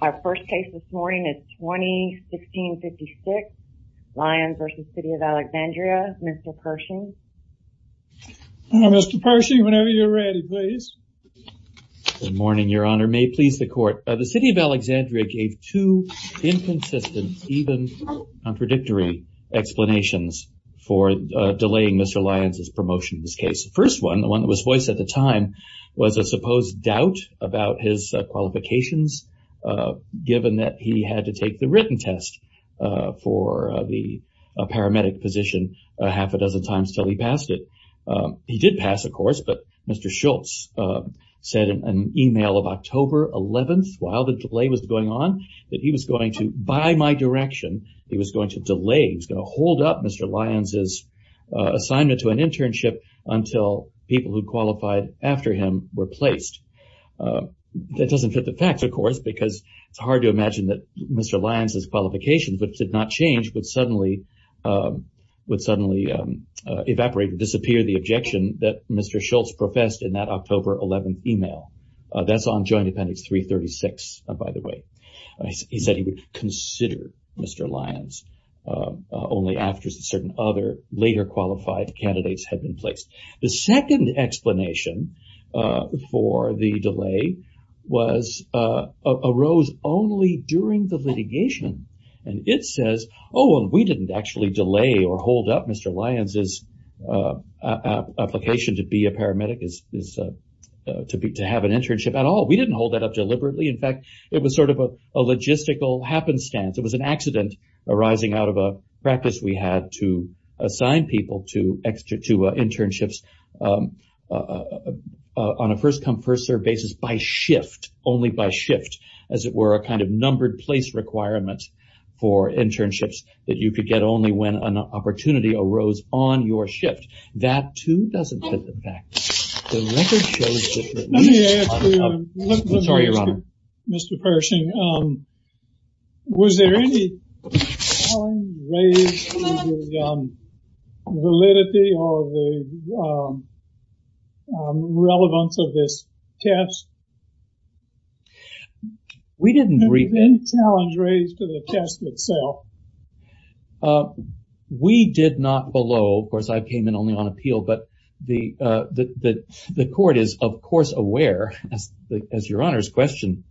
Our first case this morning is 2016-56, Lyons v. City of Alexandria. Mr. Pershing. Mr. Pershing, whenever you're ready, please. Good morning, Your Honor. May it please the Court. The City of Alexandria gave two inconsistent, even contradictory explanations for delaying Mr. Lyons' promotion in this case. The first one, the one that was voiced at the time, was a supposed doubt about his qualifications, given that he had to take the written test for the paramedic position a half a dozen times until he passed it. He did pass, of course, but Mr. Schultz said in an email of October 11th, while the delay was going on, that he was going to, by my direction, he was going to delay, he was going to hold up Mr. Lyons' assignment to an internship until people who qualified after him were placed. That doesn't fit the facts, of course, because it's hard to imagine that Mr. Lyons' qualifications, which did not change, would suddenly evaporate and disappear, the objection that Mr. Schultz professed in that October 11th email. That's on Joint Appendix 336, by the way. He said he would consider Mr. Lyons only after certain other later qualified candidates had been placed. The second explanation for the delay arose only during the litigation, and it says, oh, and we didn't actually delay or hold up Mr. Lyons' application to be a paramedic, to have an internship at all. We didn't hold that up deliberately. In fact, it was sort of a logistical happenstance. It was an accident arising out of a practice we had to assign people to internships on a first-come, first-served basis by shift, as it were, a kind of numbered place requirement for internships that you could get only when an opportunity arose on your shift. That, too, doesn't fit the facts. Let me ask you, Mr. Pershing, was there any challenge raised to the validity or the relevance of this test? We didn't agree. Was there any challenge raised to the test itself? We did not below. Of course, I came in only on appeal, but the court is, of course, aware, as your Honor's question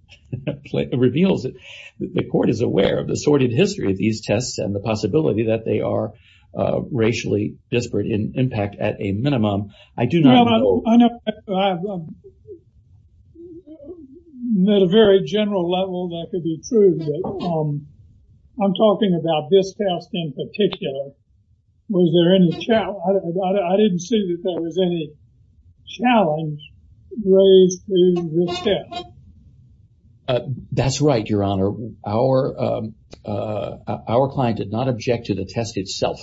reveals it, the court is aware of the sordid history of these tests and the possibility that they are racially disparate in impact at a minimum. At a very general level, that could be true. I'm talking about this test in particular. Was there any challenge? I didn't see that there was any challenge raised to this test. That's right, your Honor. Our client did not object to the test itself.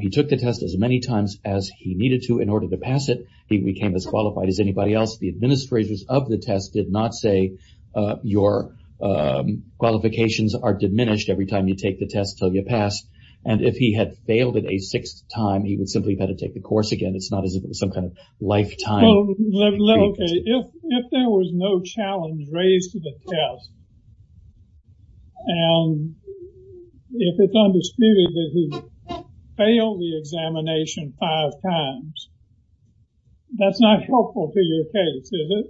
He took the test as many times as he needed to in order to pass it. He became as qualified as anybody else. The administrators of the test did not say your qualifications are diminished every time you take the test until you pass. And if he had failed it a sixth time, he would simply have had to take the course again. It's not as if it was some kind of lifetime. If there was no challenge raised to the test and if it's undisputed that he failed the examination five times, that's not helpful to your case, is it?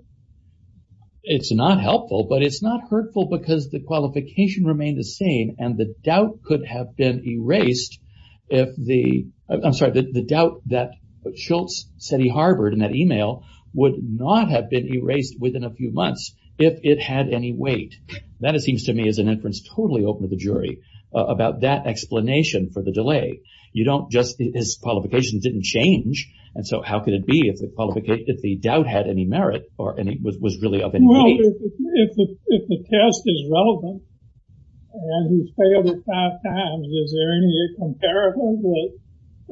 It's not helpful, but it's not hurtful because the qualification remained the same and the doubt that Schultz said he harbored in that email would not have been erased within a few months if it had any weight. That, it seems to me, is an inference totally open to the jury about that explanation for the delay. His qualifications didn't change, and so how could it be if the doubt had any merit or was really of any weight? If the test is relevant and he failed it five times, is there any comparison with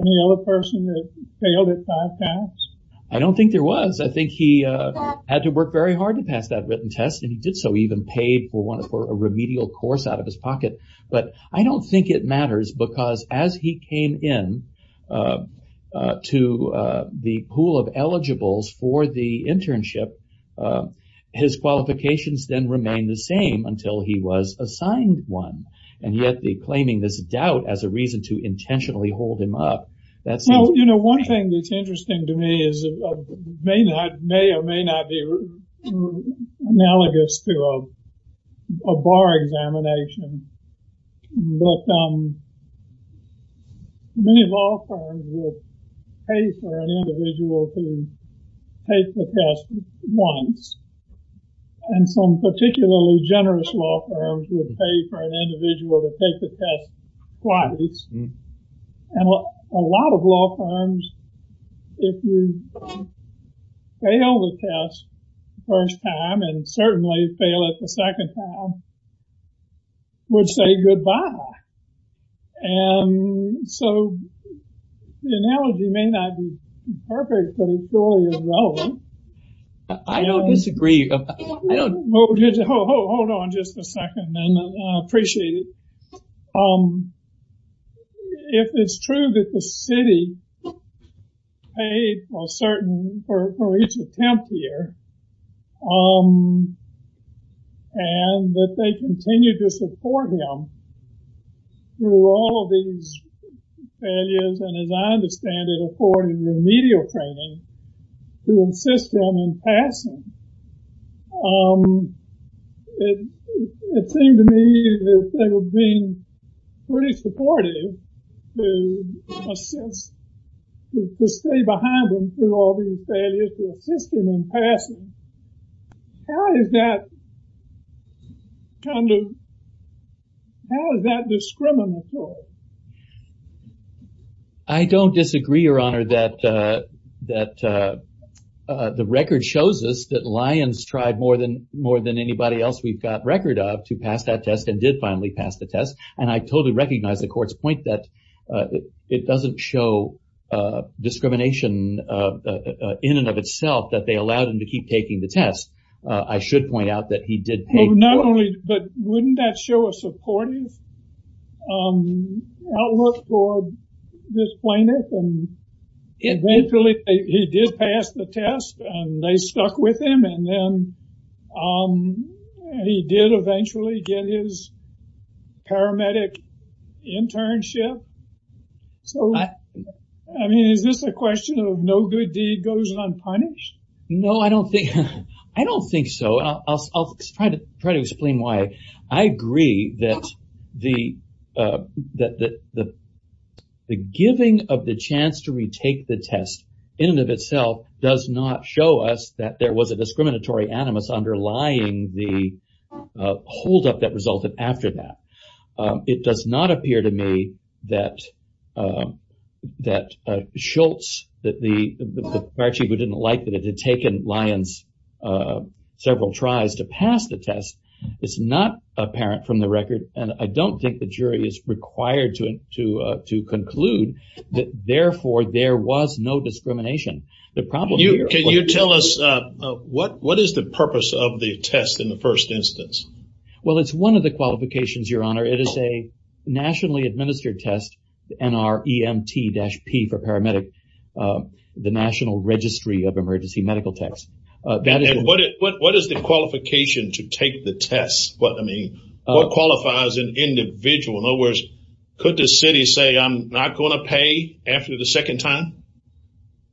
any other person that failed it five times? I don't think there was. I think he had to work very hard to pass that written test, and he did so. He even paid for a remedial course out of his pocket. But I don't think it matters because as he came in to the pool of eligibles for the internship, his qualifications then remained the same until he was assigned one, and yet the claiming this doubt as a reason to intentionally hold him up, that seems... But many law firms would pay for an individual to take the test once, and some particularly generous law firms would pay for an individual to take the test twice. And a lot of law firms, if you fail the test the first time and certainly fail it the second time, would say goodbye. And so the analogy may not be perfect, but it surely is relevant. I don't disagree. Hold on just a second, and I appreciate it. If it's true that the city paid for each attempt here, and that they continue to support him through all of these failures, and as I understand it, according to remedial training, to assist him in passing, it seemed to me that they were being pretty supportive to assist, to stay behind him through all these failures to assist him in passing. How is that kind of... How is that discriminatory? I don't disagree, Your Honor, that the record shows us that Lyons tried more than anybody else we've got record of to pass that test and did finally pass the test. And I totally recognize the court's point that it doesn't show discrimination in and of itself that they allowed him to keep taking the test. I should point out that he did pay... But wouldn't that show a supportive outlook for this plaintiff? Eventually, he did pass the test, and they stuck with him, and then he did eventually get his paramedic internship. So, I mean, is this a question of no good deed goes unpunished? No, I don't think so. I'll try to explain why I agree that the giving of the chance to retake the test in and of itself does not show us that there was a discriminatory animus underlying the holdup that resulted after that. It does not appear to me that Schultz, the paramedic who didn't like that it had taken Lyons several tries to pass the test, it's not apparent from the record, and I don't think the jury is required to conclude that, therefore, there was no discrimination. Can you tell us what is the purpose of the test in the first instance? Well, it's one of the qualifications, Your Honor. It is a nationally administered test, NREMT-P for paramedic, the National Registry of Emergency Medical Tests. What is the qualification to take the test? What qualifies an individual? In other words, could the city say, I'm not going to pay after the second time?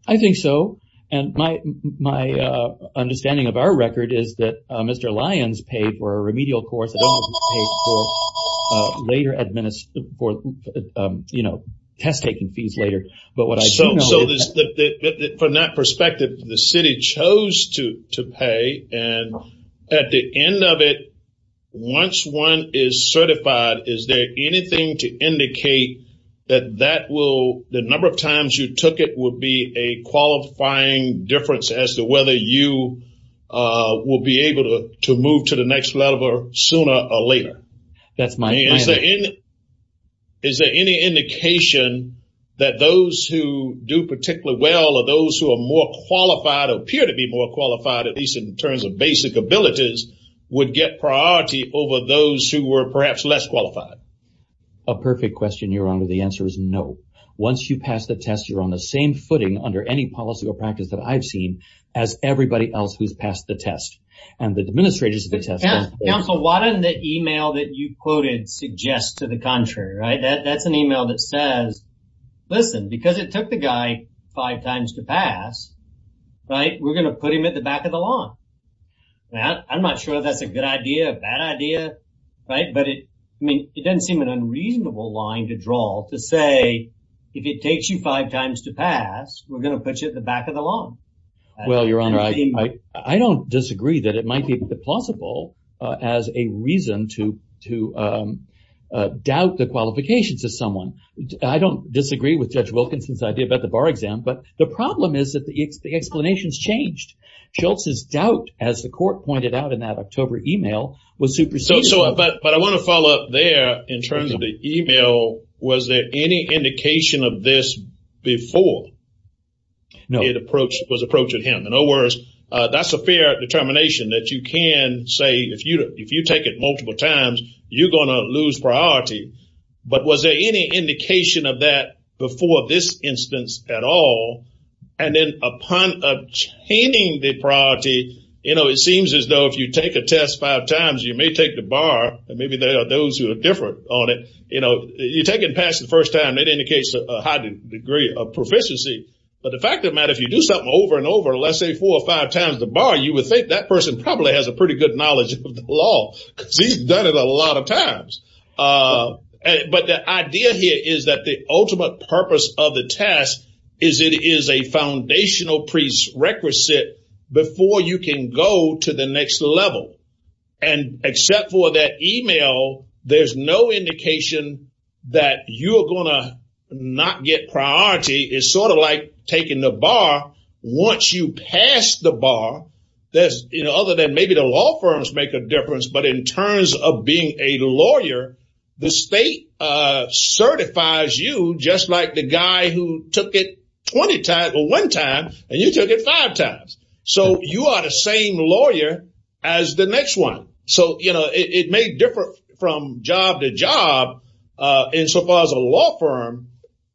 I think so, and my understanding of our record is that Mr. Lyons paid for a remedial course that he was paid for test-taking fees later. So from that perspective, the city chose to pay, and at the end of it, once one is certified, is there anything to indicate that the number of times you took it would be a qualifying difference as to whether you will be able to move to the next level sooner or later? Is there any indication that those who do particularly well or those who are more qualified or appear to be more qualified, at least in terms of basic abilities, would get priority over those who were perhaps less qualified? A perfect question, Your Honor. The answer is no. Once you pass the test, you're on the same footing under any policy or practice that I've seen as everybody else who's passed the test and the administrators of the test. Counsel, why doesn't the email that you quoted suggest to the contrary? That's an email that says, listen, because it took the guy five times to pass, we're going to put him at the back of the line. I'm not sure if that's a good idea, a bad idea, but it doesn't seem an unreasonable line to draw to say, if it takes you five times to pass, we're going to put you at the back of the line. Well, Your Honor, I don't disagree that it might be plausible as a reason to doubt the qualifications of someone. I don't disagree with Judge Wilkinson's idea about the bar exam, but the problem is that the explanation's changed. Joltz's doubt, as the court pointed out in that October email, was superseded. But I want to follow up there in terms of the email. Was there any indication of this before it was approached to him? In other words, that's a fair determination that you can say, if you take it multiple times, you're going to lose priority. But was there any indication of that before this instance at all? And then upon obtaining the priority, it seems as though if you take a test five times, you may take the bar, and maybe there are those who are different on it. You take it and pass it the first time, it indicates a high degree of proficiency. But the fact of the matter, if you do something over and over, let's say four or five times the bar, you would think that person probably has a pretty good knowledge of the law because he's done it a lot of times. But the idea here is that the ultimate purpose of the test is it is a foundational prerequisite before you can go to the next level. And except for that email, there's no indication that you are going to not get priority. It's sort of like taking the bar. Once you pass the bar, other than maybe the law firms make a difference, but in terms of being a lawyer, the state certifies you just like the guy who took it 20 times or one time, and you took it five times. So you are the same lawyer as the next one. So it may differ from job to job insofar as a law firm,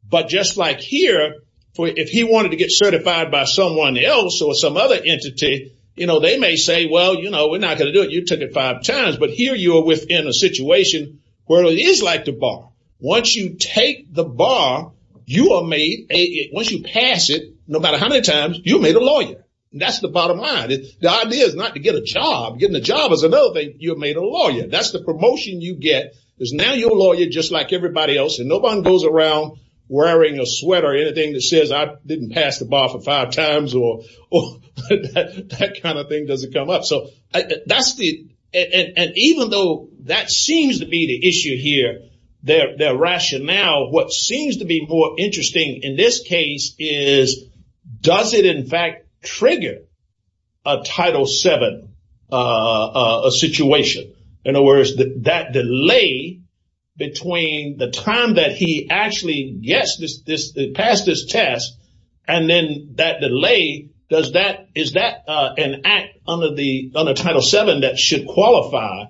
but just like here, if he wanted to get certified by someone else or some other entity, they may say, well, we're not going to do it. You took it five times, but here you are within a situation where it is like the bar. Once you take the bar, you are made a, once you pass it, no matter how many times you made a lawyer, that's the bottom line. The idea is not to get a job. Getting a job is another thing. You have made a lawyer. That's the promotion you get is now your lawyer, just like everybody else. And nobody goes around wearing a sweat or anything that says I didn't pass the bar for five times or that kind of thing doesn't come up. So that's the, and even though that seems to be the issue here, their rationale, what seems to be more interesting in this case is, does it in fact trigger a Title VII situation? In other words, that delay between the time that he actually gets this, passed this test, and then that delay, does that, is that an act under the Title VII that should qualify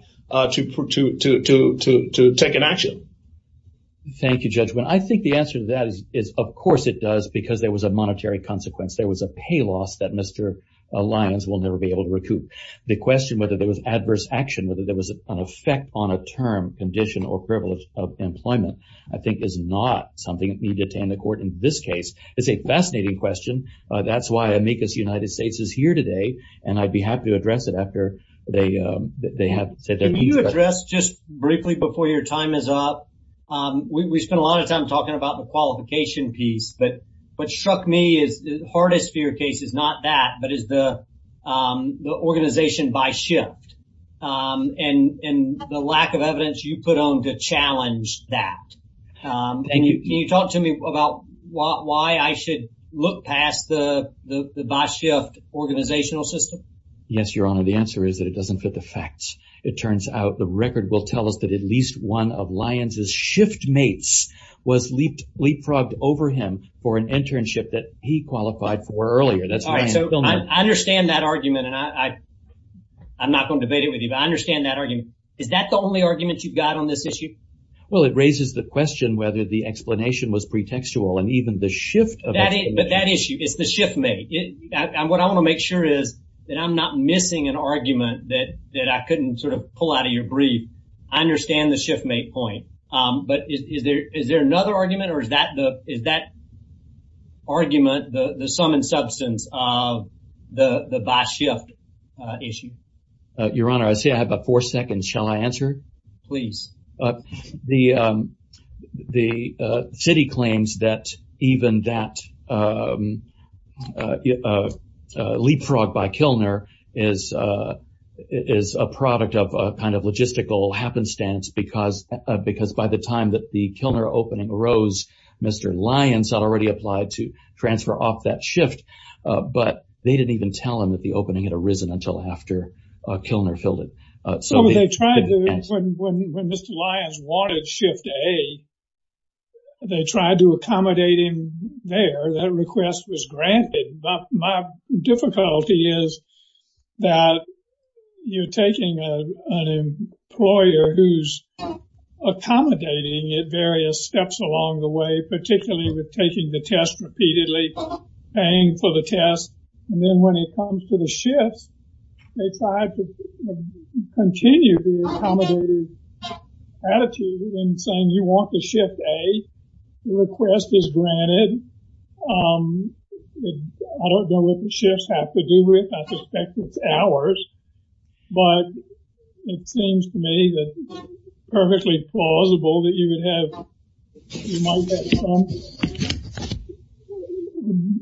to take an action? Thank you, Judge. I think the answer to that is, of course it does, because there was a monetary consequence. There was a pay loss that Mr. Lyons will never be able to recoup. The question whether there was adverse action, I think is not something that needs to attend the court in this case. It's a fascinating question. That's why Amicus United States is here today, and I'd be happy to address it after they have said their piece. Can you address just briefly before your time is up, we spent a lot of time talking about the qualification piece, but what struck me is the hardest fear case is not that, but is the organization by shift. And the lack of evidence you put on to challenge that. Can you talk to me about why I should look past the by shift organizational system? Yes, Your Honor. The answer is that it doesn't fit the facts. It turns out the record will tell us that at least one of Lyons' shift mates was leapfrogged over him for an internship that he qualified for earlier. I understand that argument and I'm not going to debate it with you, but I understand that argument. Is that the only argument you've got on this issue? Well, it raises the question whether the explanation was pretextual and even the shift of explanation. But that issue is the shift mate. What I want to make sure is that I'm not missing an argument that I couldn't sort of pull out of your brief. I understand the shift mate point, but is there another argument or is that argument the sum and substance of the by shift issue? Your Honor, I see I have about four seconds. Shall I answer? Please. The city claims that even that leapfrog by Kilner is a product of a kind of logistical happenstance because by the time that the Kilner opening arose, Mr. Lyons had already applied to transfer off that shift, but they didn't even tell him that the opening had arisen until after Kilner filled it. So when Mr. Lyons wanted shift A, they tried to accommodate him there. That request was granted. My difficulty is that you're taking an employer who's accommodating at various steps along the way, particularly with taking the test repeatedly, paying for the test, and then when it comes to the shifts, they tried to continue the accommodative attitude in saying you want the shift A. The request is granted. I don't know what the shifts have to do with. I suspect it's hours, but it seems to me that it's perfectly plausible that you would have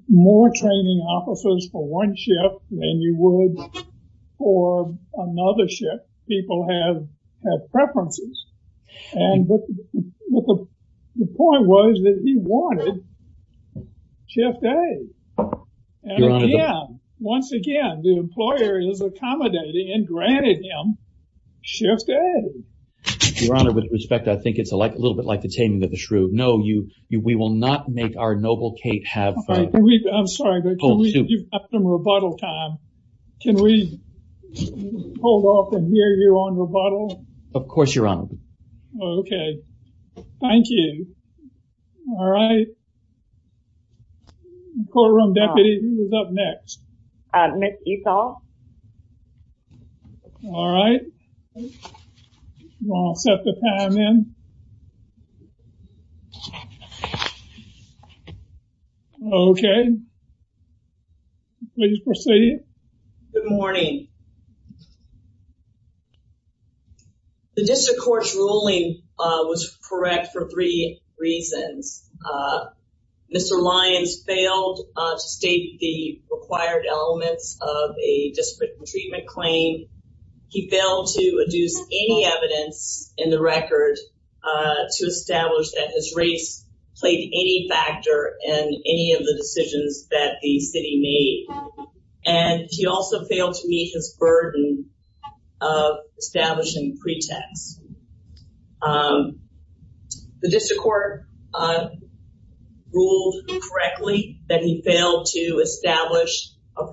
more training officers for one shift than you would for another shift. People have preferences. The point was that he wanted shift A. Once again, the employer is accommodating and granted him shift A. Your Honor, with respect, I think it's a little bit like the taming of the shrew. No, we will not make our noble Kate have— I'm sorry, but can we give up some rebuttal time? Can we hold off and hear your own rebuttal? Of course, Your Honor. Okay. Thank you. All right. Courtroom deputy, who's up next? Ms. Ethol. All right. I'll set the time in. Okay. Please proceed. Good morning. The district court's ruling was correct for three reasons. Mr. Lyons failed to state the required elements of a discipline treatment claim. He failed to adduce any evidence in the record to establish that his race played any factor in any of the decisions that the city made. And he also failed to meet his burden of establishing pretexts. The district court ruled correctly that he failed to establish a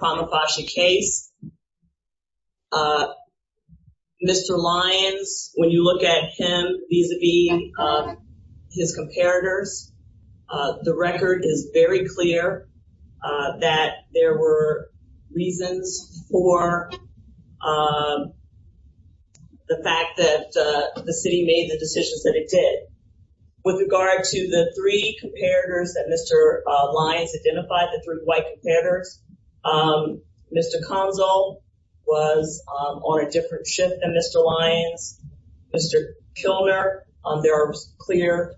The record is very clear that there were reasons for the fact that the city made the decisions that it did. With regard to the three comparators that Mr. Lyons identified, the three white comparators, Mr. Konzel was on a different shift than Mr. Lyons. Mr. Kilner, there are clear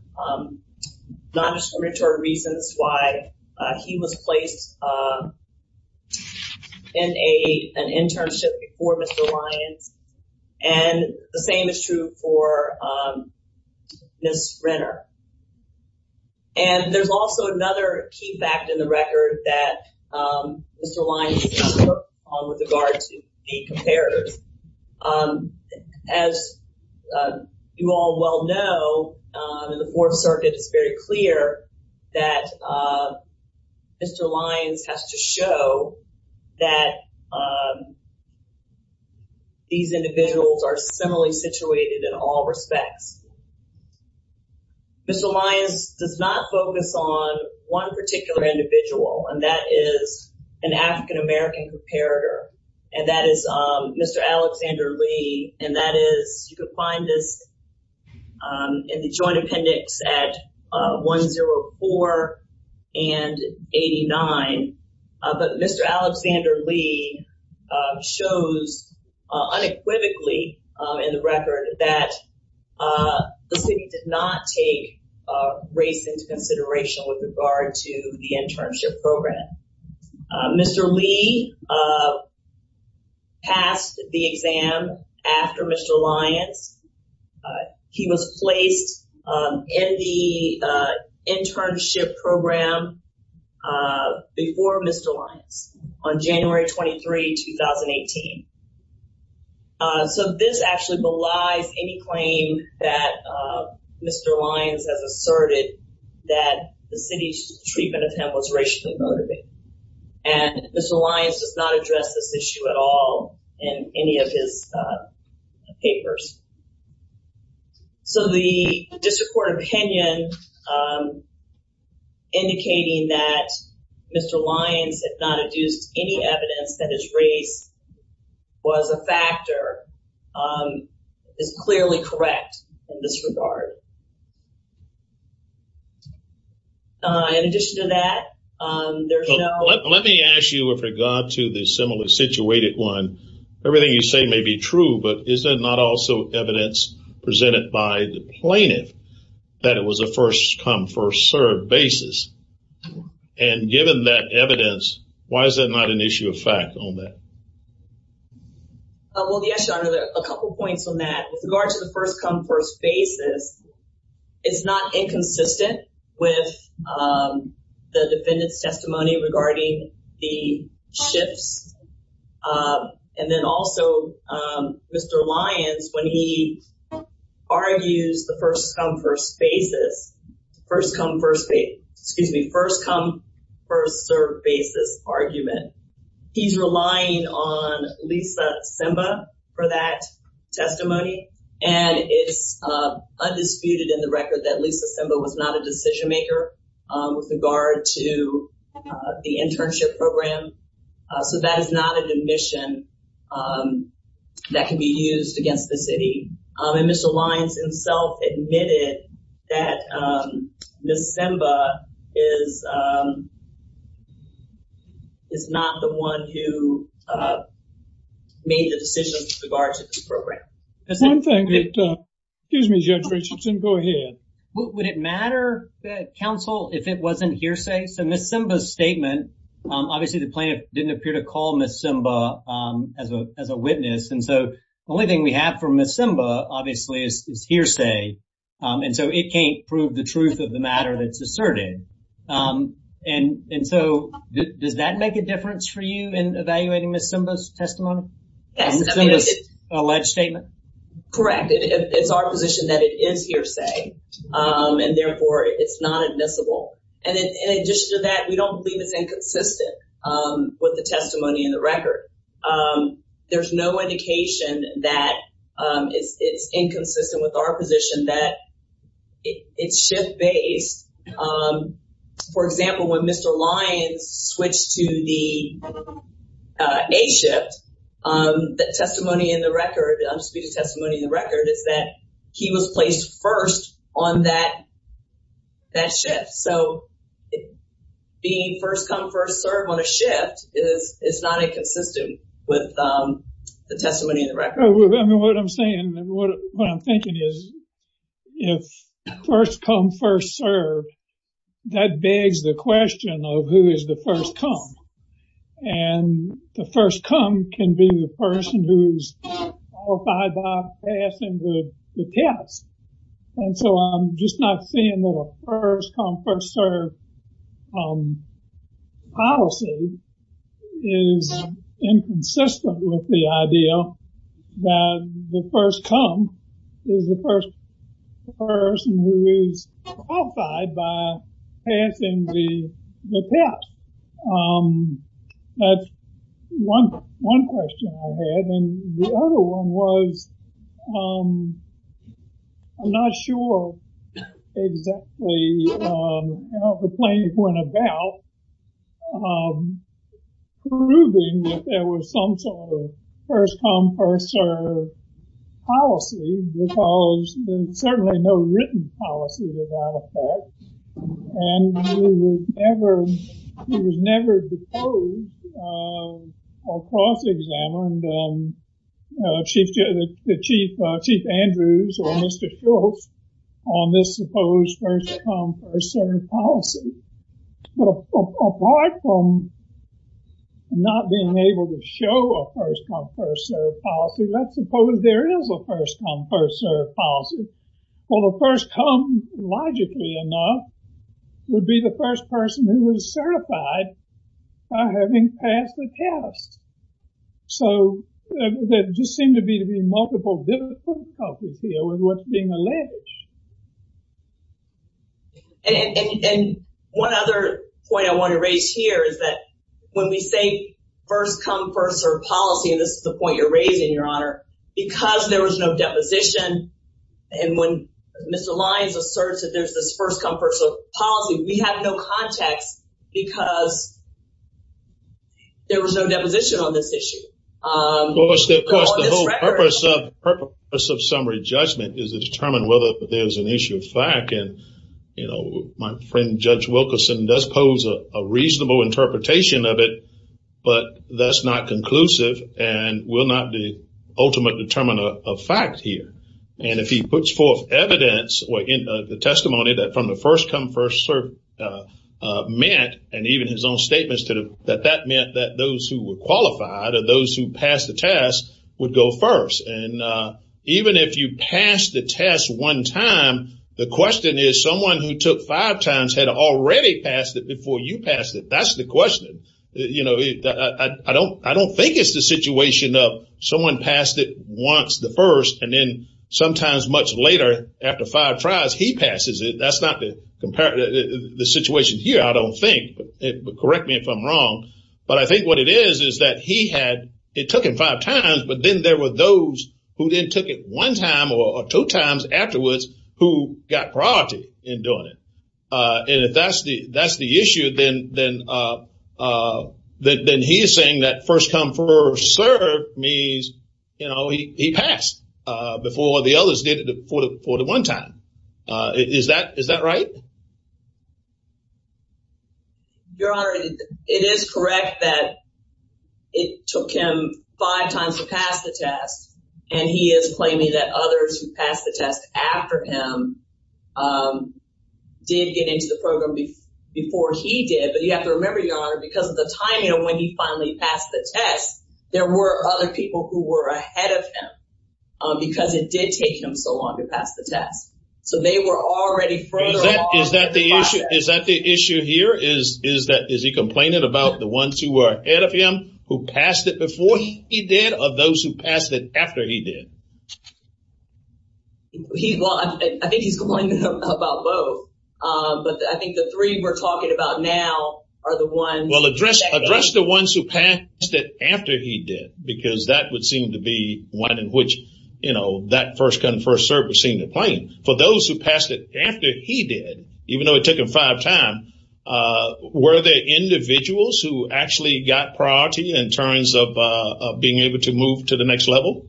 non-discriminatory reasons why he was placed in an internship before Mr. Lyons. And the same is true for Ms. Renner. And there's also another key fact in the record that Mr. Lyons took on with regard to the comparators. As you all well know, in the Fourth Circuit, it's very clear that Mr. Lyons has to show that these individuals are similarly situated in all respects. Mr. Lyons does not focus on one particular individual, and that is an African-American comparator. And that is Mr. Alexander Lee. And that is, you can find this in the joint appendix at 104 and 89. But Mr. Alexander Lee shows unequivocally in the record that the city did not take race into consideration with regard to the internship program. Mr. Lee passed the exam after Mr. Lyons. He was placed in the internship program before Mr. Lyons on January 23, 2018. So this actually belies any claim that Mr. Lyons has asserted that the city's treatment of him was racially motivated. And Mr. Lyons does not address this issue at all in any of his papers. So the district court opinion indicating that Mr. Lyons had not adduced any evidence that his race was a factor is clearly correct in this regard. In addition to that, there's no... presented by the plaintiff that it was a first-come, first-served basis. And given that evidence, why is that not an issue of fact on that? Well, yes, Your Honor, a couple points on that. With regard to the first-come, first-served basis, it's not inconsistent with the defendant's testimony regarding the shifts. And then also, Mr. Lyons, when he argues the first-come, first-served basis argument, he's relying on Lisa Simba for that testimony. And it's undisputed in the record that Lisa Simba was not a decision-maker with regard to the internship program. So that is not an admission that can be used against the city. And Mr. Lyons himself admitted that Ms. Simba is not the one who made the decision with regard to this program. One thing that... Excuse me, Judge Richardson, go ahead. Would it matter, counsel, if it wasn't hearsay? Okay, so Ms. Simba's statement, obviously the plaintiff didn't appear to call Ms. Simba as a witness. And so the only thing we have for Ms. Simba, obviously, is hearsay. And so it can't prove the truth of the matter that's asserted. And so does that make a difference for you in evaluating Ms. Simba's testimony? Ms. Simba's alleged statement? Correct. It's our position that it is hearsay. And therefore, it's not admissible. And in addition to that, we don't believe it's inconsistent with the testimony in the record. There's no indication that it's inconsistent with our position that it's shift-based. For example, when Mr. Lyons switched to the A-shift, the testimony in the record, is that he was placed first on that shift. So being first-come, first-served on a shift is not inconsistent with the testimony in the record. I mean, what I'm saying, what I'm thinking is if first-come, first-served, that begs the question of who is the first-come. And the first-come can be the person who's qualified by passing the test. And so I'm just not saying that a first-come, first-served policy is inconsistent with the idea that the first-come is the first person who is qualified by passing the test. That's one question I had. And the other one was I'm not sure exactly how the claims went about proving that there was some sort of first-come, first-served policy because there's certainly no written policy to that effect. And it was never proposed or cross-examined. Chief Andrews or Mr. Schultz on this supposed first-come, first-served policy. But apart from not being able to show a first-come, first-served policy, let's suppose there is a first-come, first-served policy. Well, the first-come, logically enough, would be the first person who is certified by having passed the test. So there just seem to be multiple different causes here with what's being alleged. And one other point I want to raise here is that when we say first-come, first-served policy, and this is the point you're raising, Your Honor, because there was no deposition, and when Mr. Lyons asserts that there's this first-come, first-served policy, we have no context because there was no deposition on this issue. Of course, the whole purpose of summary judgment is to determine whether there's an issue of fact. And, you know, my friend Judge Wilkerson does pose a reasonable interpretation of it, but that's not conclusive and will not be the ultimate determiner of fact here. And if he puts forth evidence or the testimony that from the first-come, first-served meant, and even his own statements that that meant that those who were qualified or those who passed the test would go first. And even if you pass the test one time, the question is someone who took five times had already passed it before you passed it. That's the question. You know, I don't think it's the situation of someone passed it once, the first, and then sometimes much later, after five tries, he passes it. That's not the situation here, I don't think. Correct me if I'm wrong. But I think what it is is that he had, it took him five times, but then there were those who then took it one time or two times afterwards who got priority in doing it. And if that's the issue, then he is saying that first-come, first-served means, you know, he passed before the others did it for the one time. Is that right? Your Honor, it is correct that it took him five times to pass the test, and he is claiming that others who passed the test after him did get into the program before he did. But you have to remember, Your Honor, because of the timing of when he finally passed the test, there were other people who were ahead of him because it did take him so long to pass the test. So they were already further off in the process. Is that the issue here? Is he complaining about the ones who were ahead of him, who passed it before he did, or those who passed it after he did? I think he's complaining about both. But I think the three we're talking about now are the ones. Well, address the ones who passed it after he did, because that would seem to be one in which, you know, that first-come, first-served would seem to claim. For those who passed it after he did, even though it took them five times, were there individuals who actually got priority in terms of being able to move to the next level?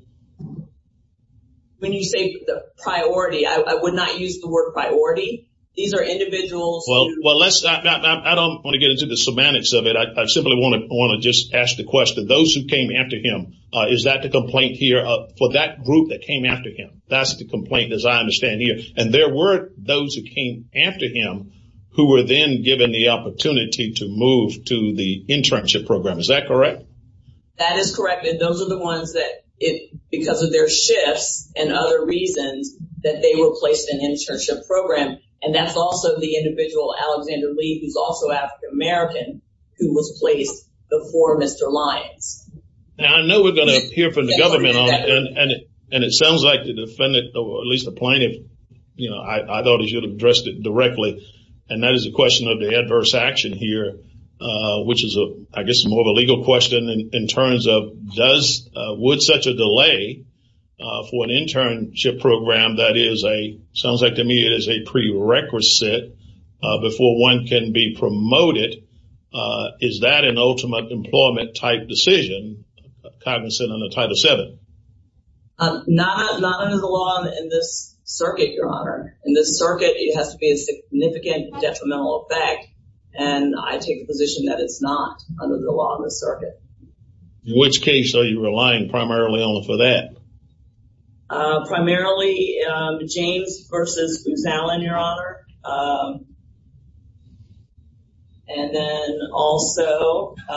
When you say priority, I would not use the word priority. These are individuals who ---- Well, I don't want to get into the semantics of it. I simply want to just ask the question. Those who came after him, is that the complaint here for that group that came after him? That's the complaint, as I understand here. And there were those who came after him who were then given the opportunity to move to the internship program. Is that correct? That is correct. And those are the ones that, because of their shifts and other reasons, that they were placed in the internship program. And that's also the individual, Alexander Lee, who's also African-American, who was placed before Mr. Lyons. Now, I know we're going to hear from the government on it. And it sounds like the defendant, or at least the plaintiff, you know, I thought he should have addressed it directly. And that is a question of the adverse action here, which is, I guess, more of a legal question in terms of, would such a delay for an internship program that is a, sounds like to me it is a prerequisite before one can be promoted, is that an ultimate employment-type decision, cognizant under Title VII? Not under the law in this circuit, Your Honor. In this circuit, it has to be a significant detrimental effect. And I take the position that it's not under the law in this circuit. In which case are you relying primarily on for that? Primarily, James versus Booz Allen, Your Honor. And then also, there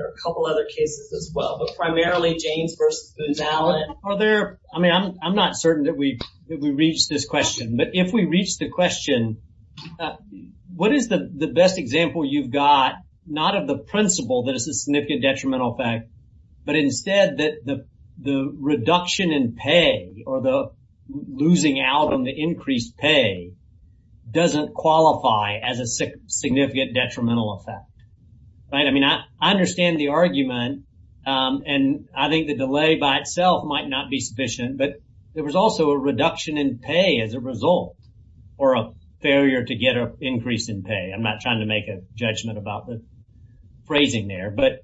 are a couple other cases as well. But primarily, James versus Booz Allen. Are there, I mean, I'm not certain that we reached this question. But if we reached the question, what is the best example you've got, not of the principle that it's a significant detrimental effect, but instead that the reduction in pay, or the losing out on the increased pay, doesn't qualify as a significant detrimental effect? I mean, I understand the argument. And I think the delay by itself might not be sufficient. But there was also a reduction in pay as a result, or a failure to get an increase in pay. I'm not trying to make a judgment about the phrasing there. But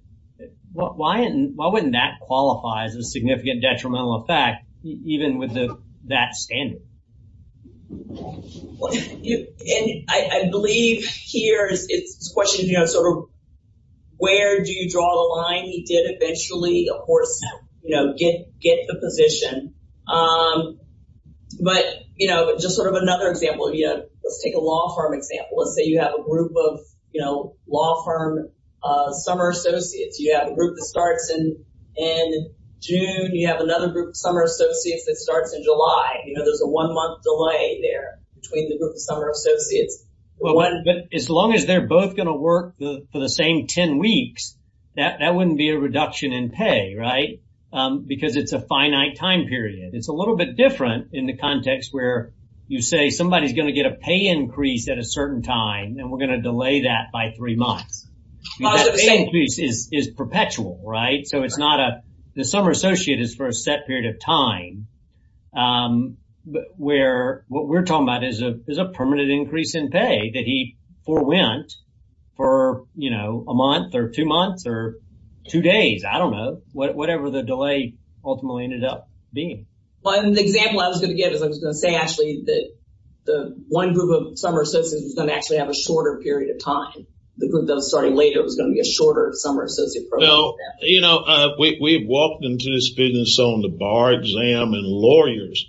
why wouldn't that qualify as a significant detrimental effect, even with that standard? And I believe here, it's a question of sort of where do you draw the line? He did eventually, of course, get the position. But just sort of another example, let's take a law firm example. Let's say you have a group of law firm summer associates. You have a group that starts in June. You have another group of summer associates that starts in July. You know, there's a one-month delay there between the group of summer associates. But as long as they're both going to work for the same 10 weeks, that wouldn't be a reduction in pay, right? Because it's a finite time period. It's a little bit different in the context where you say somebody's going to get a pay increase at a certain time, and we're going to delay that by three months. That pay increase is perpetual, right? The summer associate is for a set period of time. What we're talking about is a permanent increase in pay that he forewent for a month or two months or two days. I don't know, whatever the delay ultimately ended up being. The example I was going to give is I was going to say, actually, that the one group of summer associates is going to actually have a shorter period of time. The group that was starting later was going to be a shorter summer associate program. Well, you know, we've walked into this business on the bar exam and lawyers.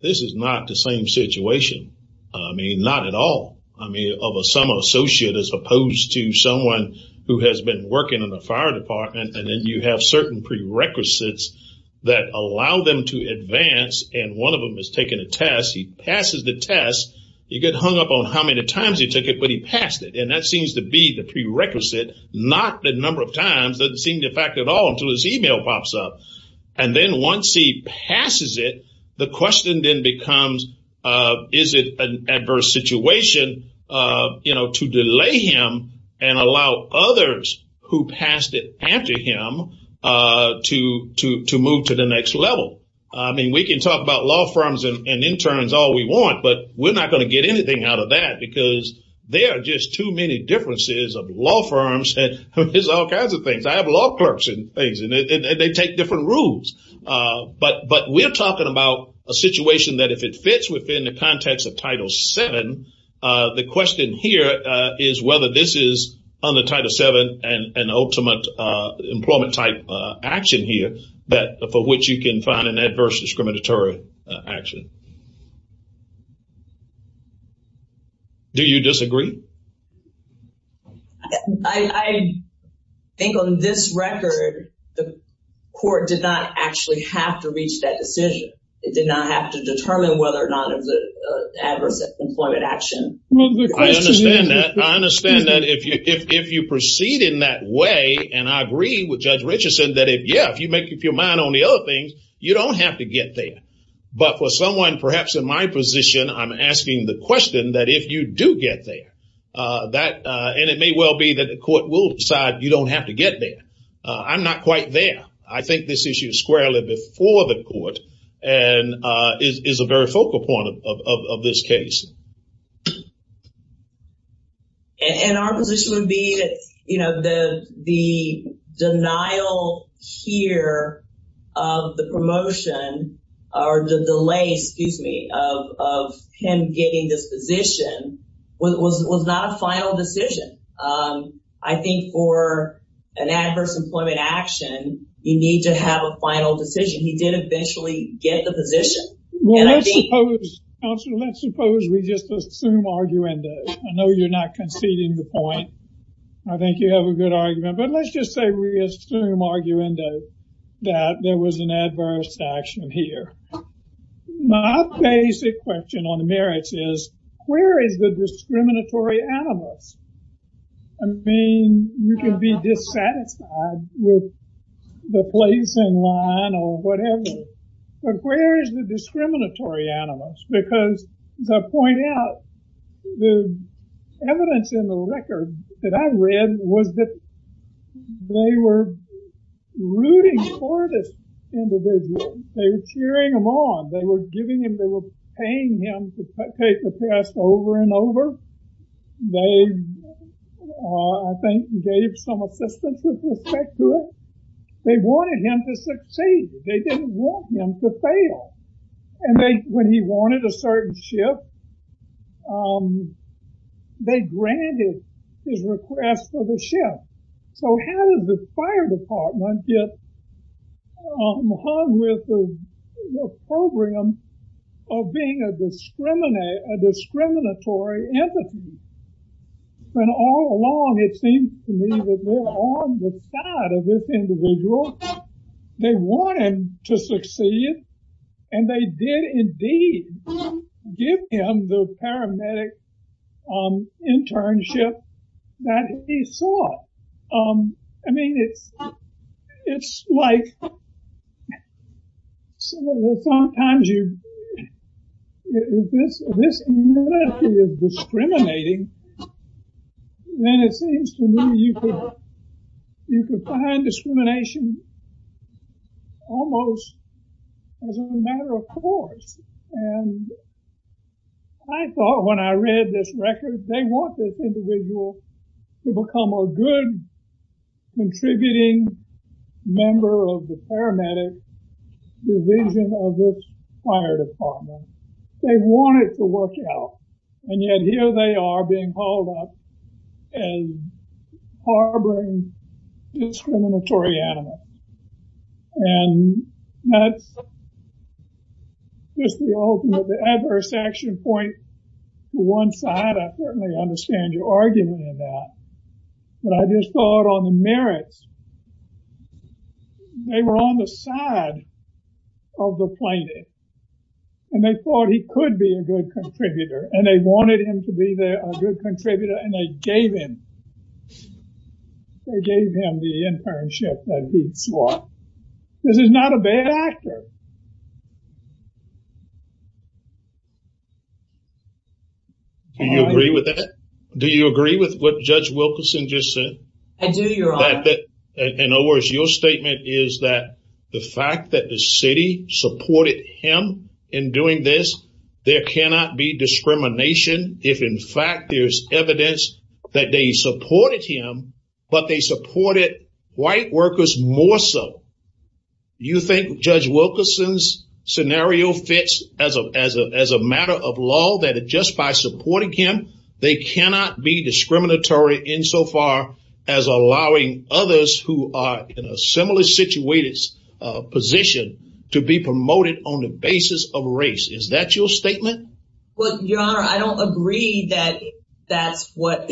This is not the same situation. I mean, not at all. I mean, of a summer associate as opposed to someone who has been working in the fire department, and then you have certain prerequisites that allow them to advance, and one of them is taking a test. He passes the test. You get hung up on how many times he took it, but he passed it. And that seems to be the prerequisite, not the number of times. It doesn't seem to affect it at all until his e-mail pops up. And then once he passes it, the question then becomes, is it an adverse situation, you know, to delay him and allow others who passed it after him to move to the next level? I mean, we can talk about law firms and interns all we want, but we're not going to get anything out of that because there are just too many differences of law firms. There's all kinds of things. I have law clerks and things, and they take different rules. But we're talking about a situation that if it fits within the context of Title VII, the question here is whether this is, under Title VII, an ultimate employment-type action here for which you can find an adverse discriminatory action. Do you disagree? I think on this record the court did not actually have to reach that decision. It did not have to determine whether or not it was an adverse employment action. I understand that. I understand that if you proceed in that way, and I agree with Judge Richardson that, yeah, if you make up your mind on the other things, you don't have to get there. But for someone perhaps in my position, I'm asking the question that if you do get there, and it may well be that the court will decide you don't have to get there. I'm not quite there. I think this issue is squarely before the court and is a very focal point of this case. And our position would be that the denial here of the promotion or the delay, excuse me, of him getting this position was not a final decision. I think for an adverse employment action, you need to have a final decision. He did eventually get the position. Well, let's suppose, counsel, let's suppose we just assume arguendo. I know you're not conceding the point. I think you have a good argument. But let's just say we assume arguendo that there was an adverse action here. My basic question on the merits is where is the discriminatory animus? I mean, you can be dissatisfied with the place in line or whatever. But where is the discriminatory animus? Because as I point out, the evidence in the record that I read was that they were rooting for this individual. They were cheering him on. They were giving him, they were paying him to take the test over and over. They, I think, gave some assistance with respect to it. They wanted him to succeed. They didn't want him to fail. And when he wanted a certain shift, they granted his request for the shift. So how does the fire department get hung with the program of being a discriminatory entity? And all along, it seems to me that they're on the side of this individual. They want him to succeed. And they did indeed give him the paramedic internship that he sought. I mean, it's like sometimes you, if this entity is discriminating, then it seems to me you can find discrimination almost as a matter of course. And I thought when I read this record, they want this individual to become a good contributing member of the paramedic division of this fire department. They want it to work out. And yet here they are being hauled up as harboring discriminatory animus. And that's just the ultimate, the adverse action point for one side. I certainly understand your argument on that. But I just thought on the merits, they were on the side of the plaintiff. And they thought he could be a good contributor. And they wanted him to be a good contributor. And they gave him the internship that he sought. This is not a bad actor. Do you agree with that? Do you agree with what Judge Wilkerson just said? I do, Your Honor. In other words, your statement is that the fact that the city supported him in doing this, there cannot be discrimination if in fact there's evidence that they supported him, but they supported white workers more so. You think Judge Wilkerson's scenario fits as a matter of law that just by supporting him, they cannot be discriminatory insofar as allowing others who are in a similarly situated position to be promoted on the basis of race. Is that your statement? Well, Your Honor, I don't agree that that's what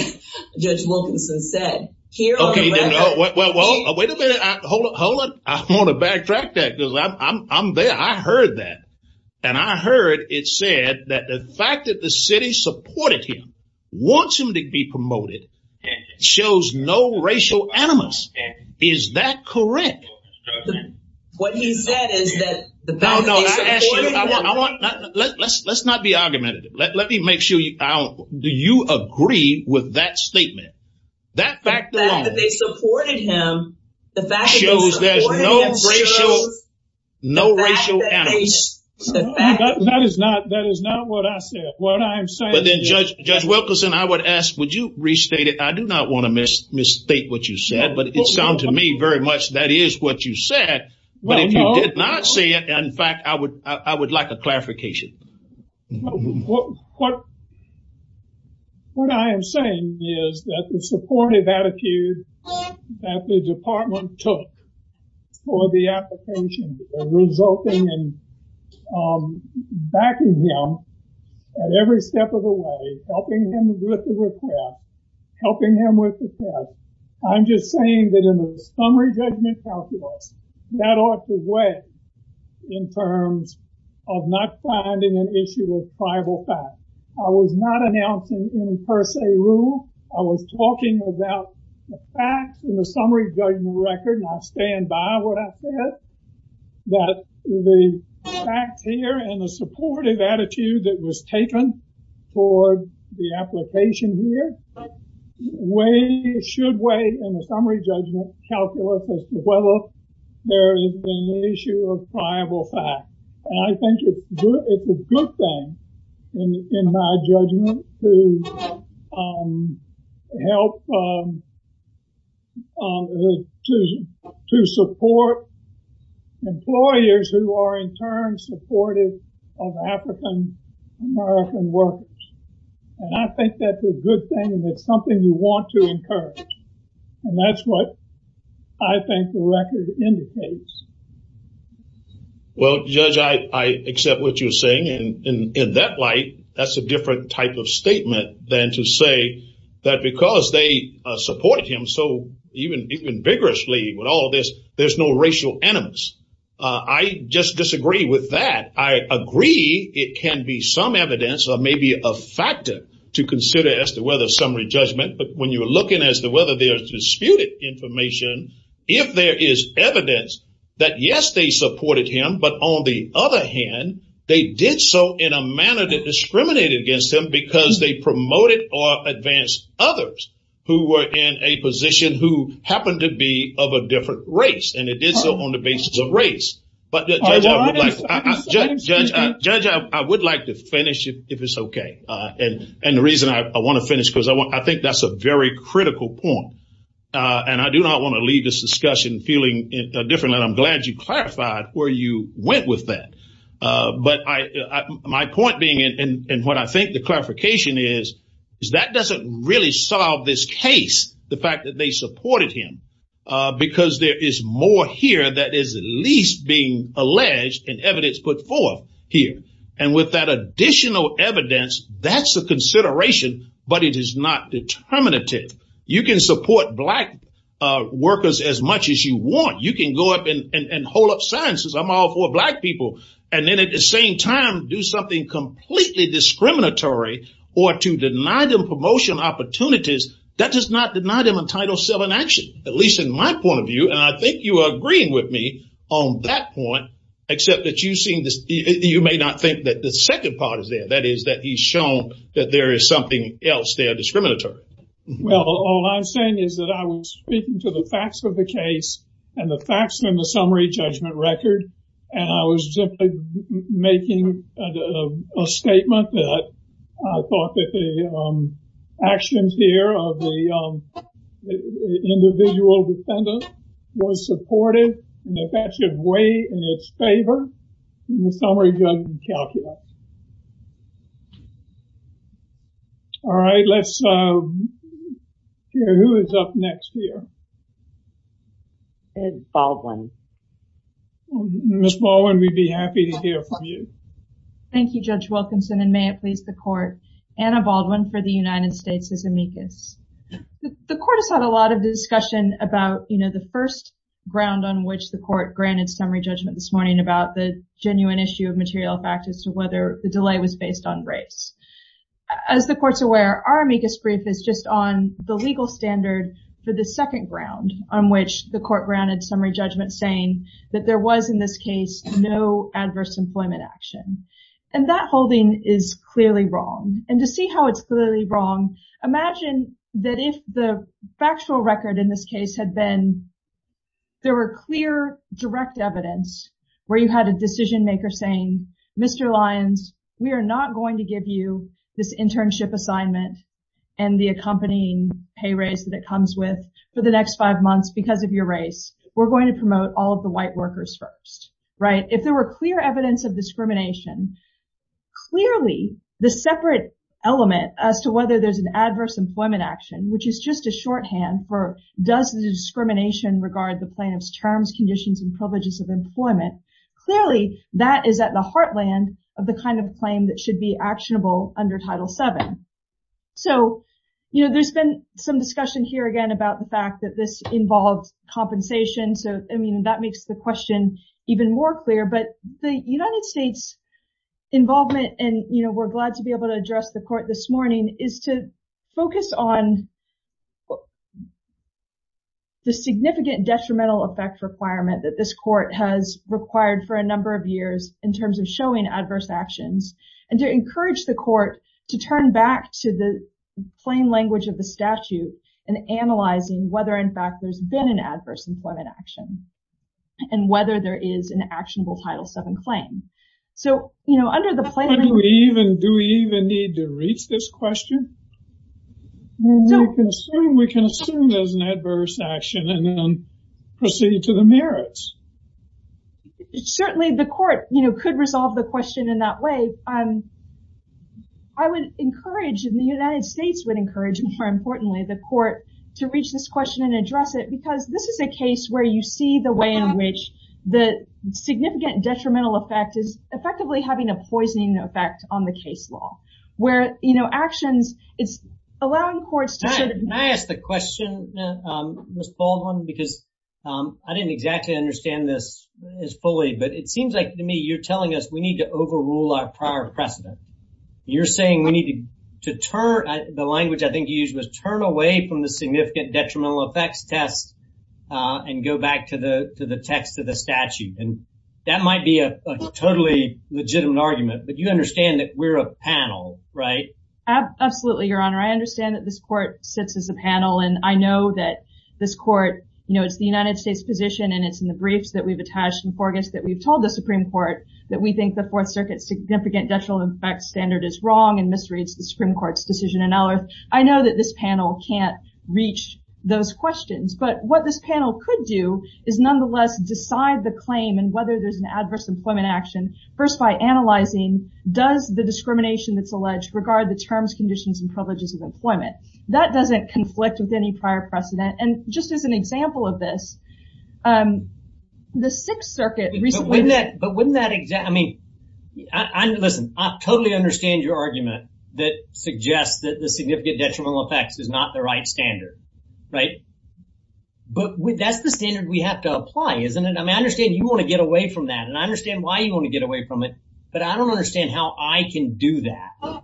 Judge Wilkerson said. Okay. Well, wait a minute. Hold on. I want to backtrack that because I'm there. I heard that. And I heard it said that the fact that the city supported him, wants him to be promoted, shows no racial animus. Is that correct? What he said is that the fact that they supported him. Let's not be argumentative. Let me make sure. Do you agree with that statement? That fact alone shows there's no racial animus. That is not what I said. But then Judge Wilkerson, I would ask, would you restate it? I do not want to misstate what you said, but it sounds to me very much that is what you said. But if you did not say it, in fact, I would like a clarification. What I am saying is that the supportive attitude that the department took for the application resulting in backing him at every step of the way, helping him with the request, helping him with the test. I'm just saying that in the summary judgment calculus, that ought to weigh in terms of not finding an issue with tribal facts. I was not announcing any per se rule. I was talking about the facts in the summary judgment record. And I stand by what I said, that the facts here and the supportive attitude that was taken for the application here. Should weigh in the summary judgment calculus as to whether there is an issue of tribal facts. And I think it's a good thing in my judgment to help, to support employers who are in turn supportive of African American workers. And I think that's a good thing and it's something you want to encourage. And that's what I think the record indicates. Well, Judge, I accept what you're saying. And in that light, that's a different type of statement than to say that because they support him so even vigorously with all this, there's no racial animus. I just disagree with that. I agree it can be some evidence or maybe a factor to consider as to whether summary judgment. But when you're looking as to whether there's disputed information, if there is evidence that yes, they supported him. But on the other hand, they did so in a manner that discriminated against him because they promoted or advanced others who were in a position who happened to be of a different race. And it did so on the basis of race. But Judge, I would like to finish if it's okay. And the reason I want to finish because I think that's a very critical point. And I do not want to leave this discussion feeling different. And I'm glad you clarified where you went with that. But my point being and what I think the clarification is, is that doesn't really solve this case. The fact that they supported him because there is more here that is at least being alleged and evidence put forth here. And with that additional evidence, that's a consideration. But it is not determinative. You can support black workers as much as you want. You can go up and hold up signs that say, I'm all for black people. And then at the same time, do something completely discriminatory or to deny them promotion opportunities. That does not deny them entitled self-enactment, at least in my point of view. And I think you are agreeing with me on that point, except that you may not think that the second part is there. That is that he's shown that there is something else there discriminatory. Well, all I'm saying is that I was speaking to the facts of the case and the facts in the summary judgment record. And I was simply making a statement that I thought that the actions here of the individual defendant was supported. And that that should weigh in its favor in the summary judgment calculus. All right. Let's hear who is up next here. Ms. Baldwin. Ms. Baldwin, we'd be happy to hear from you. Thank you, Judge Wilkinson. And may it please the court. Anna Baldwin for the United States is amicus. The court has had a lot of discussion about, you know, the first ground on which the court granted summary judgment this morning about the genuine issue of material factors to whether the delay was based on race. As the courts aware, our amicus brief is just on the legal standard for the second ground on which the court granted summary judgment, saying that there was, in this case, no adverse employment action. And that holding is clearly wrong. And to see how it's clearly wrong, imagine that if the factual record in this case had been there were clear, direct evidence where you had a decision maker saying, Mr. Lyons, we are not going to give you this internship assignment and the accompanying pay raise that it comes with for the next five months because of your race. We're going to promote all of the white workers first. Right. If there were clear evidence of discrimination, clearly the separate element as to whether there's an adverse employment action, which is just a shorthand for does the discrimination regard the plaintiff's terms, conditions and privileges of employment. Clearly, that is at the heartland of the kind of claim that should be actionable under Title VII. So, you know, there's been some discussion here, again, about the fact that this involves compensation. So, I mean, that makes the question even more clear. But the United States involvement and, you know, we're glad to be able to address the court this morning is to focus on. The significant detrimental effect requirement that this court has required for a number of years in terms of showing adverse actions and to encourage the court to turn back to the plain language of the statute and analyzing whether, in fact, there's been an adverse employment action and whether there is an actionable Title VII claim. So, you know, under the plain language... Do we even need to reach this question? We can assume there's an adverse action and then proceed to the merits. Certainly the court, you know, could resolve the question in that way. I would encourage, and the United States would encourage, more importantly, the court to reach this question and address it, because this is a case where you see the way in which the significant detrimental effect is effectively having a poisoning effect on the case law, where, you know, actions, it's allowing courts to sort of... Can I ask the question, Ms. Baldwin, because I didn't exactly understand this as fully, but it seems like to me you're telling us we need to overrule our prior precedent. You're saying we need to turn... The language I think you used was turn away from the significant detrimental effects test and go back to the text of the statute, and that might be a totally legitimate argument, but you understand that we're a panel, right? Absolutely, Your Honor. I understand that this court sits as a panel, and I know that this court, you know, it's the United States position, and it's in the briefs that we've attached in Forges that we've told the Supreme Court that we think the Fourth Circuit's significant detrimental effects standard is wrong and misreads the Supreme Court's decision in Ellerth. I know that this panel can't reach those questions, but what this panel could do is nonetheless decide the claim and whether there's an adverse employment action first by analyzing, does the discrimination that's alleged regard the terms, conditions, and privileges of employment? That doesn't conflict with any prior precedent, and just as an example of this, the Sixth Circuit recently... But wouldn't that exact... I mean, listen, I totally understand your argument that suggests that the significant detrimental effects is not the right standard, right? But that's the standard we have to apply, isn't it? I mean, I understand you want to get away from that, and I understand why you want to get away from it, but I don't understand how I can do that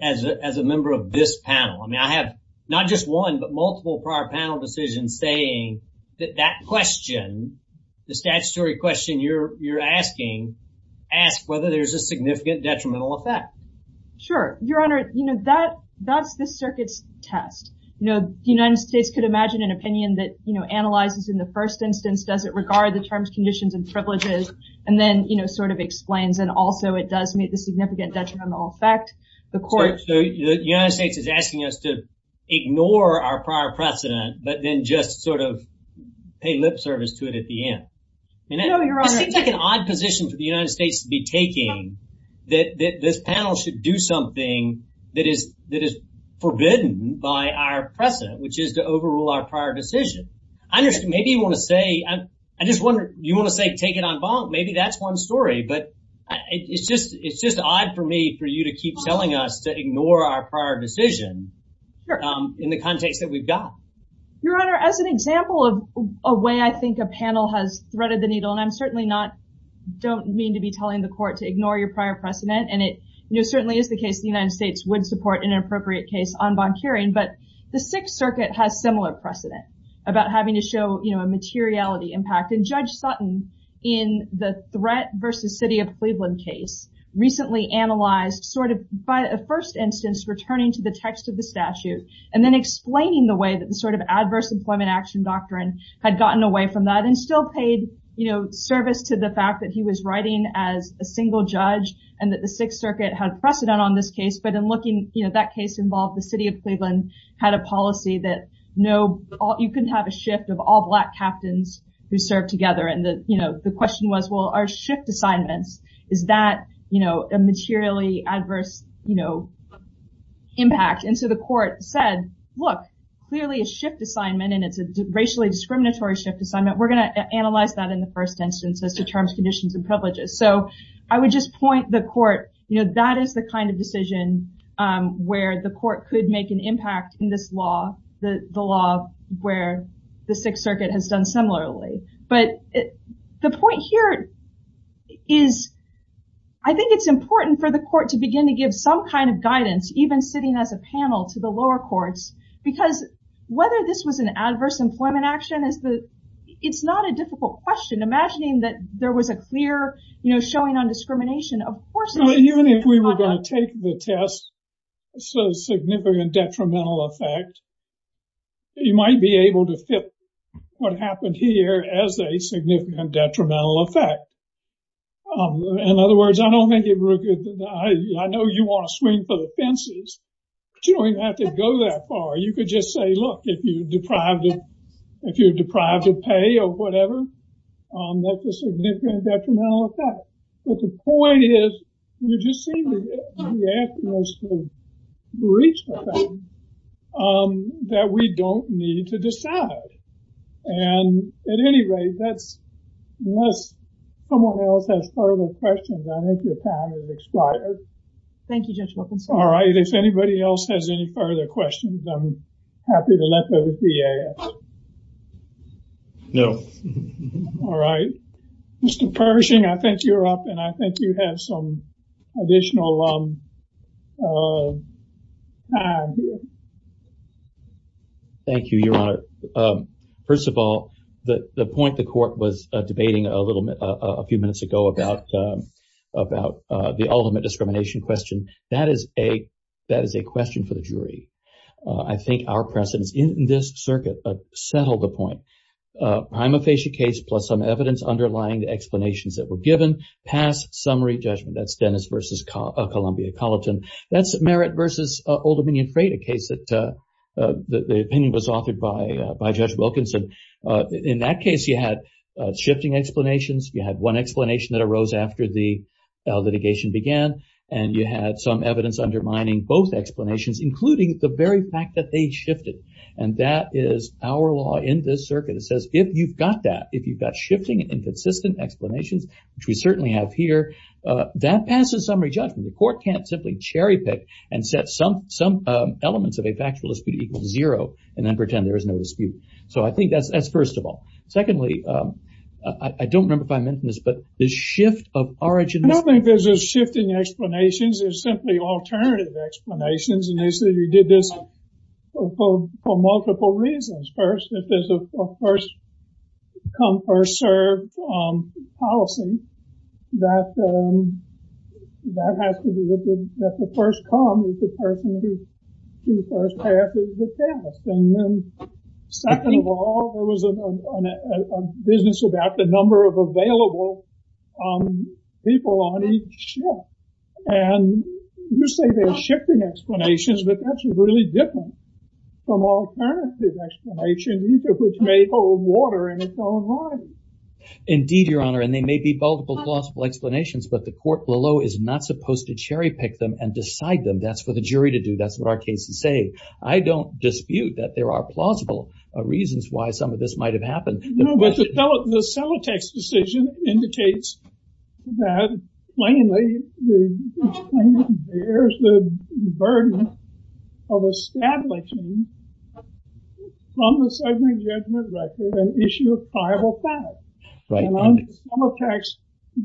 as a member of this panel. I mean, I have not just one, but multiple prior panel decisions saying that that question, the statutory question you're asking, asks whether there's a significant detrimental effect. Sure. Your Honor, that's the Circuit's test. The United States could imagine an opinion that analyzes in the first instance, does it regard the terms, conditions, and privileges, and then sort of explains, and also it does meet the significant detrimental effect. So the United States is asking us to ignore our prior precedent, but then just sort of pay lip service to it at the end. No, Your Honor. It seems like an odd position for the United States to be taking that this panel should do something that is forbidden by our precedent, which is to overrule our prior decision. I understand. Maybe you want to say take it en banc. Maybe that's one story, but it's just odd for me for you to keep telling us to ignore our prior decision in the context that we've got. Your Honor, as an example of a way I think a panel has threaded the needle, and I certainly don't mean to be telling the Court to ignore your prior precedent, and it certainly is the case the United States would support in an appropriate case en banc hearing, but the Sixth Circuit has similar precedent about having to show a materiality impact. And Judge Sutton, in the threat versus city of Cleveland case, recently analyzed sort of by a first instance returning to the text of the statute and then explaining the way that the sort of adverse employment action doctrine had gotten away from that and still paid service to the fact that he was writing as a single judge and that the Sixth Circuit had precedent on this case, but that case involved the city of Cleveland had a policy that you couldn't have a shift of all black captains who served together, and the question was, well, are shift assignments, is that a materially adverse impact? And so the Court said, look, clearly a shift assignment, and it's a racially discriminatory shift assignment. We're going to analyze that in the first instance as to terms, conditions, and privileges. So I would just point the court, you know, that is the kind of decision where the court could make an impact in this law, the law where the Sixth Circuit has done similarly. But the point here is I think it's important for the court to begin to give some kind of guidance, even sitting as a panel to the lower courts, because whether this was an adverse employment action, it's not a difficult question. Imagining that there was a clear, you know, showing on discrimination, of course. Even if we were going to take the test, so significant detrimental effect, you might be able to fit what happened here as a significant detrimental effect. In other words, I know you want to swing for the fences, but you don't have to go that far. You could just say, look, if you're deprived of pay or whatever, that's a significant detrimental effect. But the point is, you just seem to be asking us to reach the thing that we don't need to decide. And at any rate, unless someone else has further questions, I think your time has expired. Thank you, Judge Wilkinson. All right. If anybody else has any further questions, I'm happy to let the DA know. All right. Mr. Pershing, I think you're up and I think you have some additional time. Thank you, Your Honor. First of all, the point the court was debating a few minutes ago about the ultimate discrimination question, that is a question for the jury. I think our precedence in this circuit settled the point. Prima facie case plus some evidence underlying the explanations that were given past summary judgment. That's Dennis versus Columbia Colleton. That's Merritt versus Old Dominion Freight, a case that the opinion was authored by Judge Wilkinson. In that case, you had shifting explanations. You had one explanation that arose after the litigation began. And you had some evidence undermining both explanations, including the very fact that they shifted. And that is our law in this circuit. It says if you've got that, if you've got shifting and inconsistent explanations, which we certainly have here, that passes summary judgment. The court can't simply cherry pick and set some elements of a factual dispute equal to zero and then pretend there is no dispute. So I think that's first of all. Secondly, I don't remember if I mentioned this, but the shift of origins. I don't think there's a shift in explanations. There's simply alternative explanations. And you said you did this for multiple reasons. First, if there's a first come, first served policy, that has to be that the first come is the person who first passes the test. Second of all, there was a business about the number of available people on each shift. And you say there's shifting explanations, but that's really different from alternative explanations, which may hold water in its own right. Indeed, Your Honor, and they may be multiple plausible explanations, but the court below is not supposed to cherry pick them and decide them. That's for the jury to do. That's what our cases say. I don't dispute that there are plausible reasons why some of this might have happened. No, but the Sematex decision indicates that plainly, the plaintiff bears the burden of establishing from the second judgment record an issue of pliable fact. Right. And on the Sematex,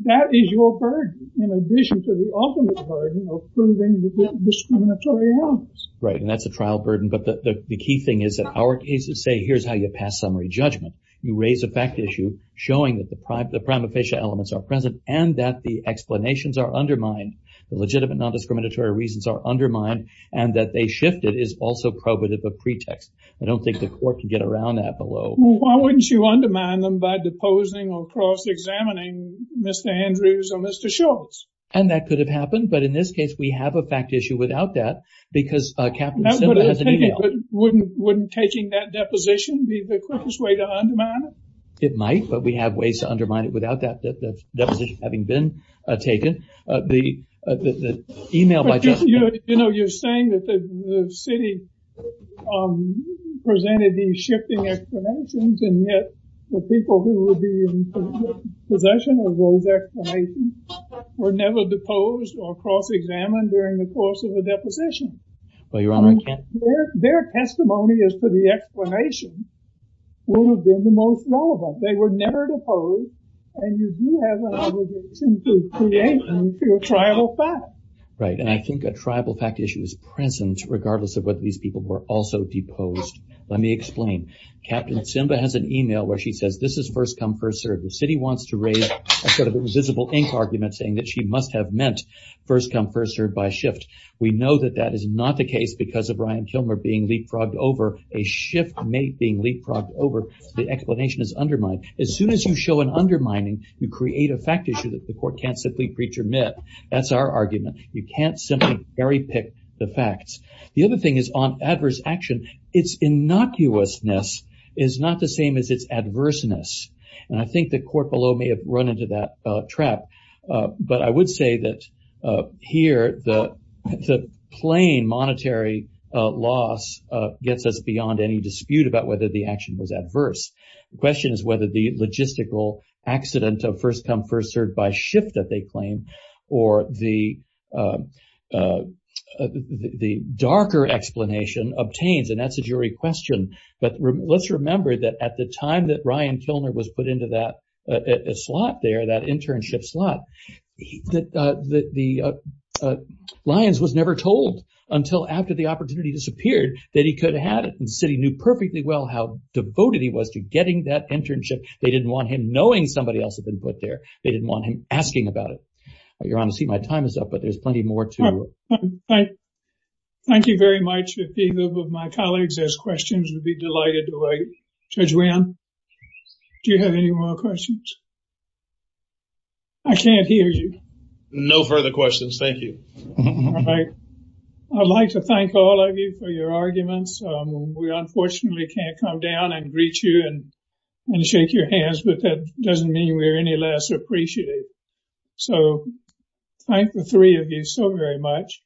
that is your burden in addition to the ultimate burden of proving the discriminatory elements. Right, and that's a trial burden. But the key thing is that our cases say, here's how you pass summary judgment. You raise a fact issue showing that the prima facie elements are present and that the explanations are undermined. The legitimate non-discriminatory reasons are undermined and that they shifted is also probative of pretext. I don't think the court can get around that below. Why wouldn't you undermine them by deposing or cross-examining Mr. Andrews or Mr. Schultz? And that could have happened. But in this case, we have a fact issue without that because Captain Simla has an email. Wouldn't taking that deposition be the quickest way to undermine it? It might, but we have ways to undermine it without that deposition having been taken. You know, you're saying that the city presented these shifting explanations and yet the people who would be in possession of those explanations were never deposed or cross-examined during the course of the deposition. Their testimony as to the explanation would have been the most relevant. They were never deposed and you do have an obligation to create them through a tribal fact. Right, and I think a tribal fact issue is present regardless of whether these people were also deposed. Let me explain. Captain Simla has an email where she says this is first come, first served. The city wants to raise a sort of invisible ink argument saying that she must have meant first come, first served by shift. We know that that is not the case because of Ryan Kilmer being leapfrogged over, a shift being leapfrogged over. The explanation is undermined. As soon as you show an undermining, you create a fact issue that the court can't simply preach or admit. That's our argument. You can't simply cherry pick the facts. The other thing is on adverse action, its innocuousness is not the same as its adverseness. And I think the court below may have run into that trap. But I would say that here the plain monetary loss gets us beyond any dispute about whether the action was adverse. The question is whether the logistical accident of first come, first served by shift that they claim or the darker explanation obtains. And that's a jury question. But let's remember that at the time that Ryan Kilmer was put into that slot there, that internship slot, that Lyons was never told until after the opportunity disappeared that he could have it. The city knew perfectly well how devoted he was to getting that internship. They didn't want him knowing somebody else had been put there. They didn't want him asking about it. Your Honor, my time is up, but there's plenty more to. Thank you very much. If any of my colleagues has questions, we'd be delighted to wait. Judge Wynn, do you have any more questions? I can't hear you. No further questions. Thank you. I'd like to thank all of you for your arguments. We unfortunately can't come down and greet you and shake your hands, but that doesn't mean we're any less appreciative. So thank the three of you so very much.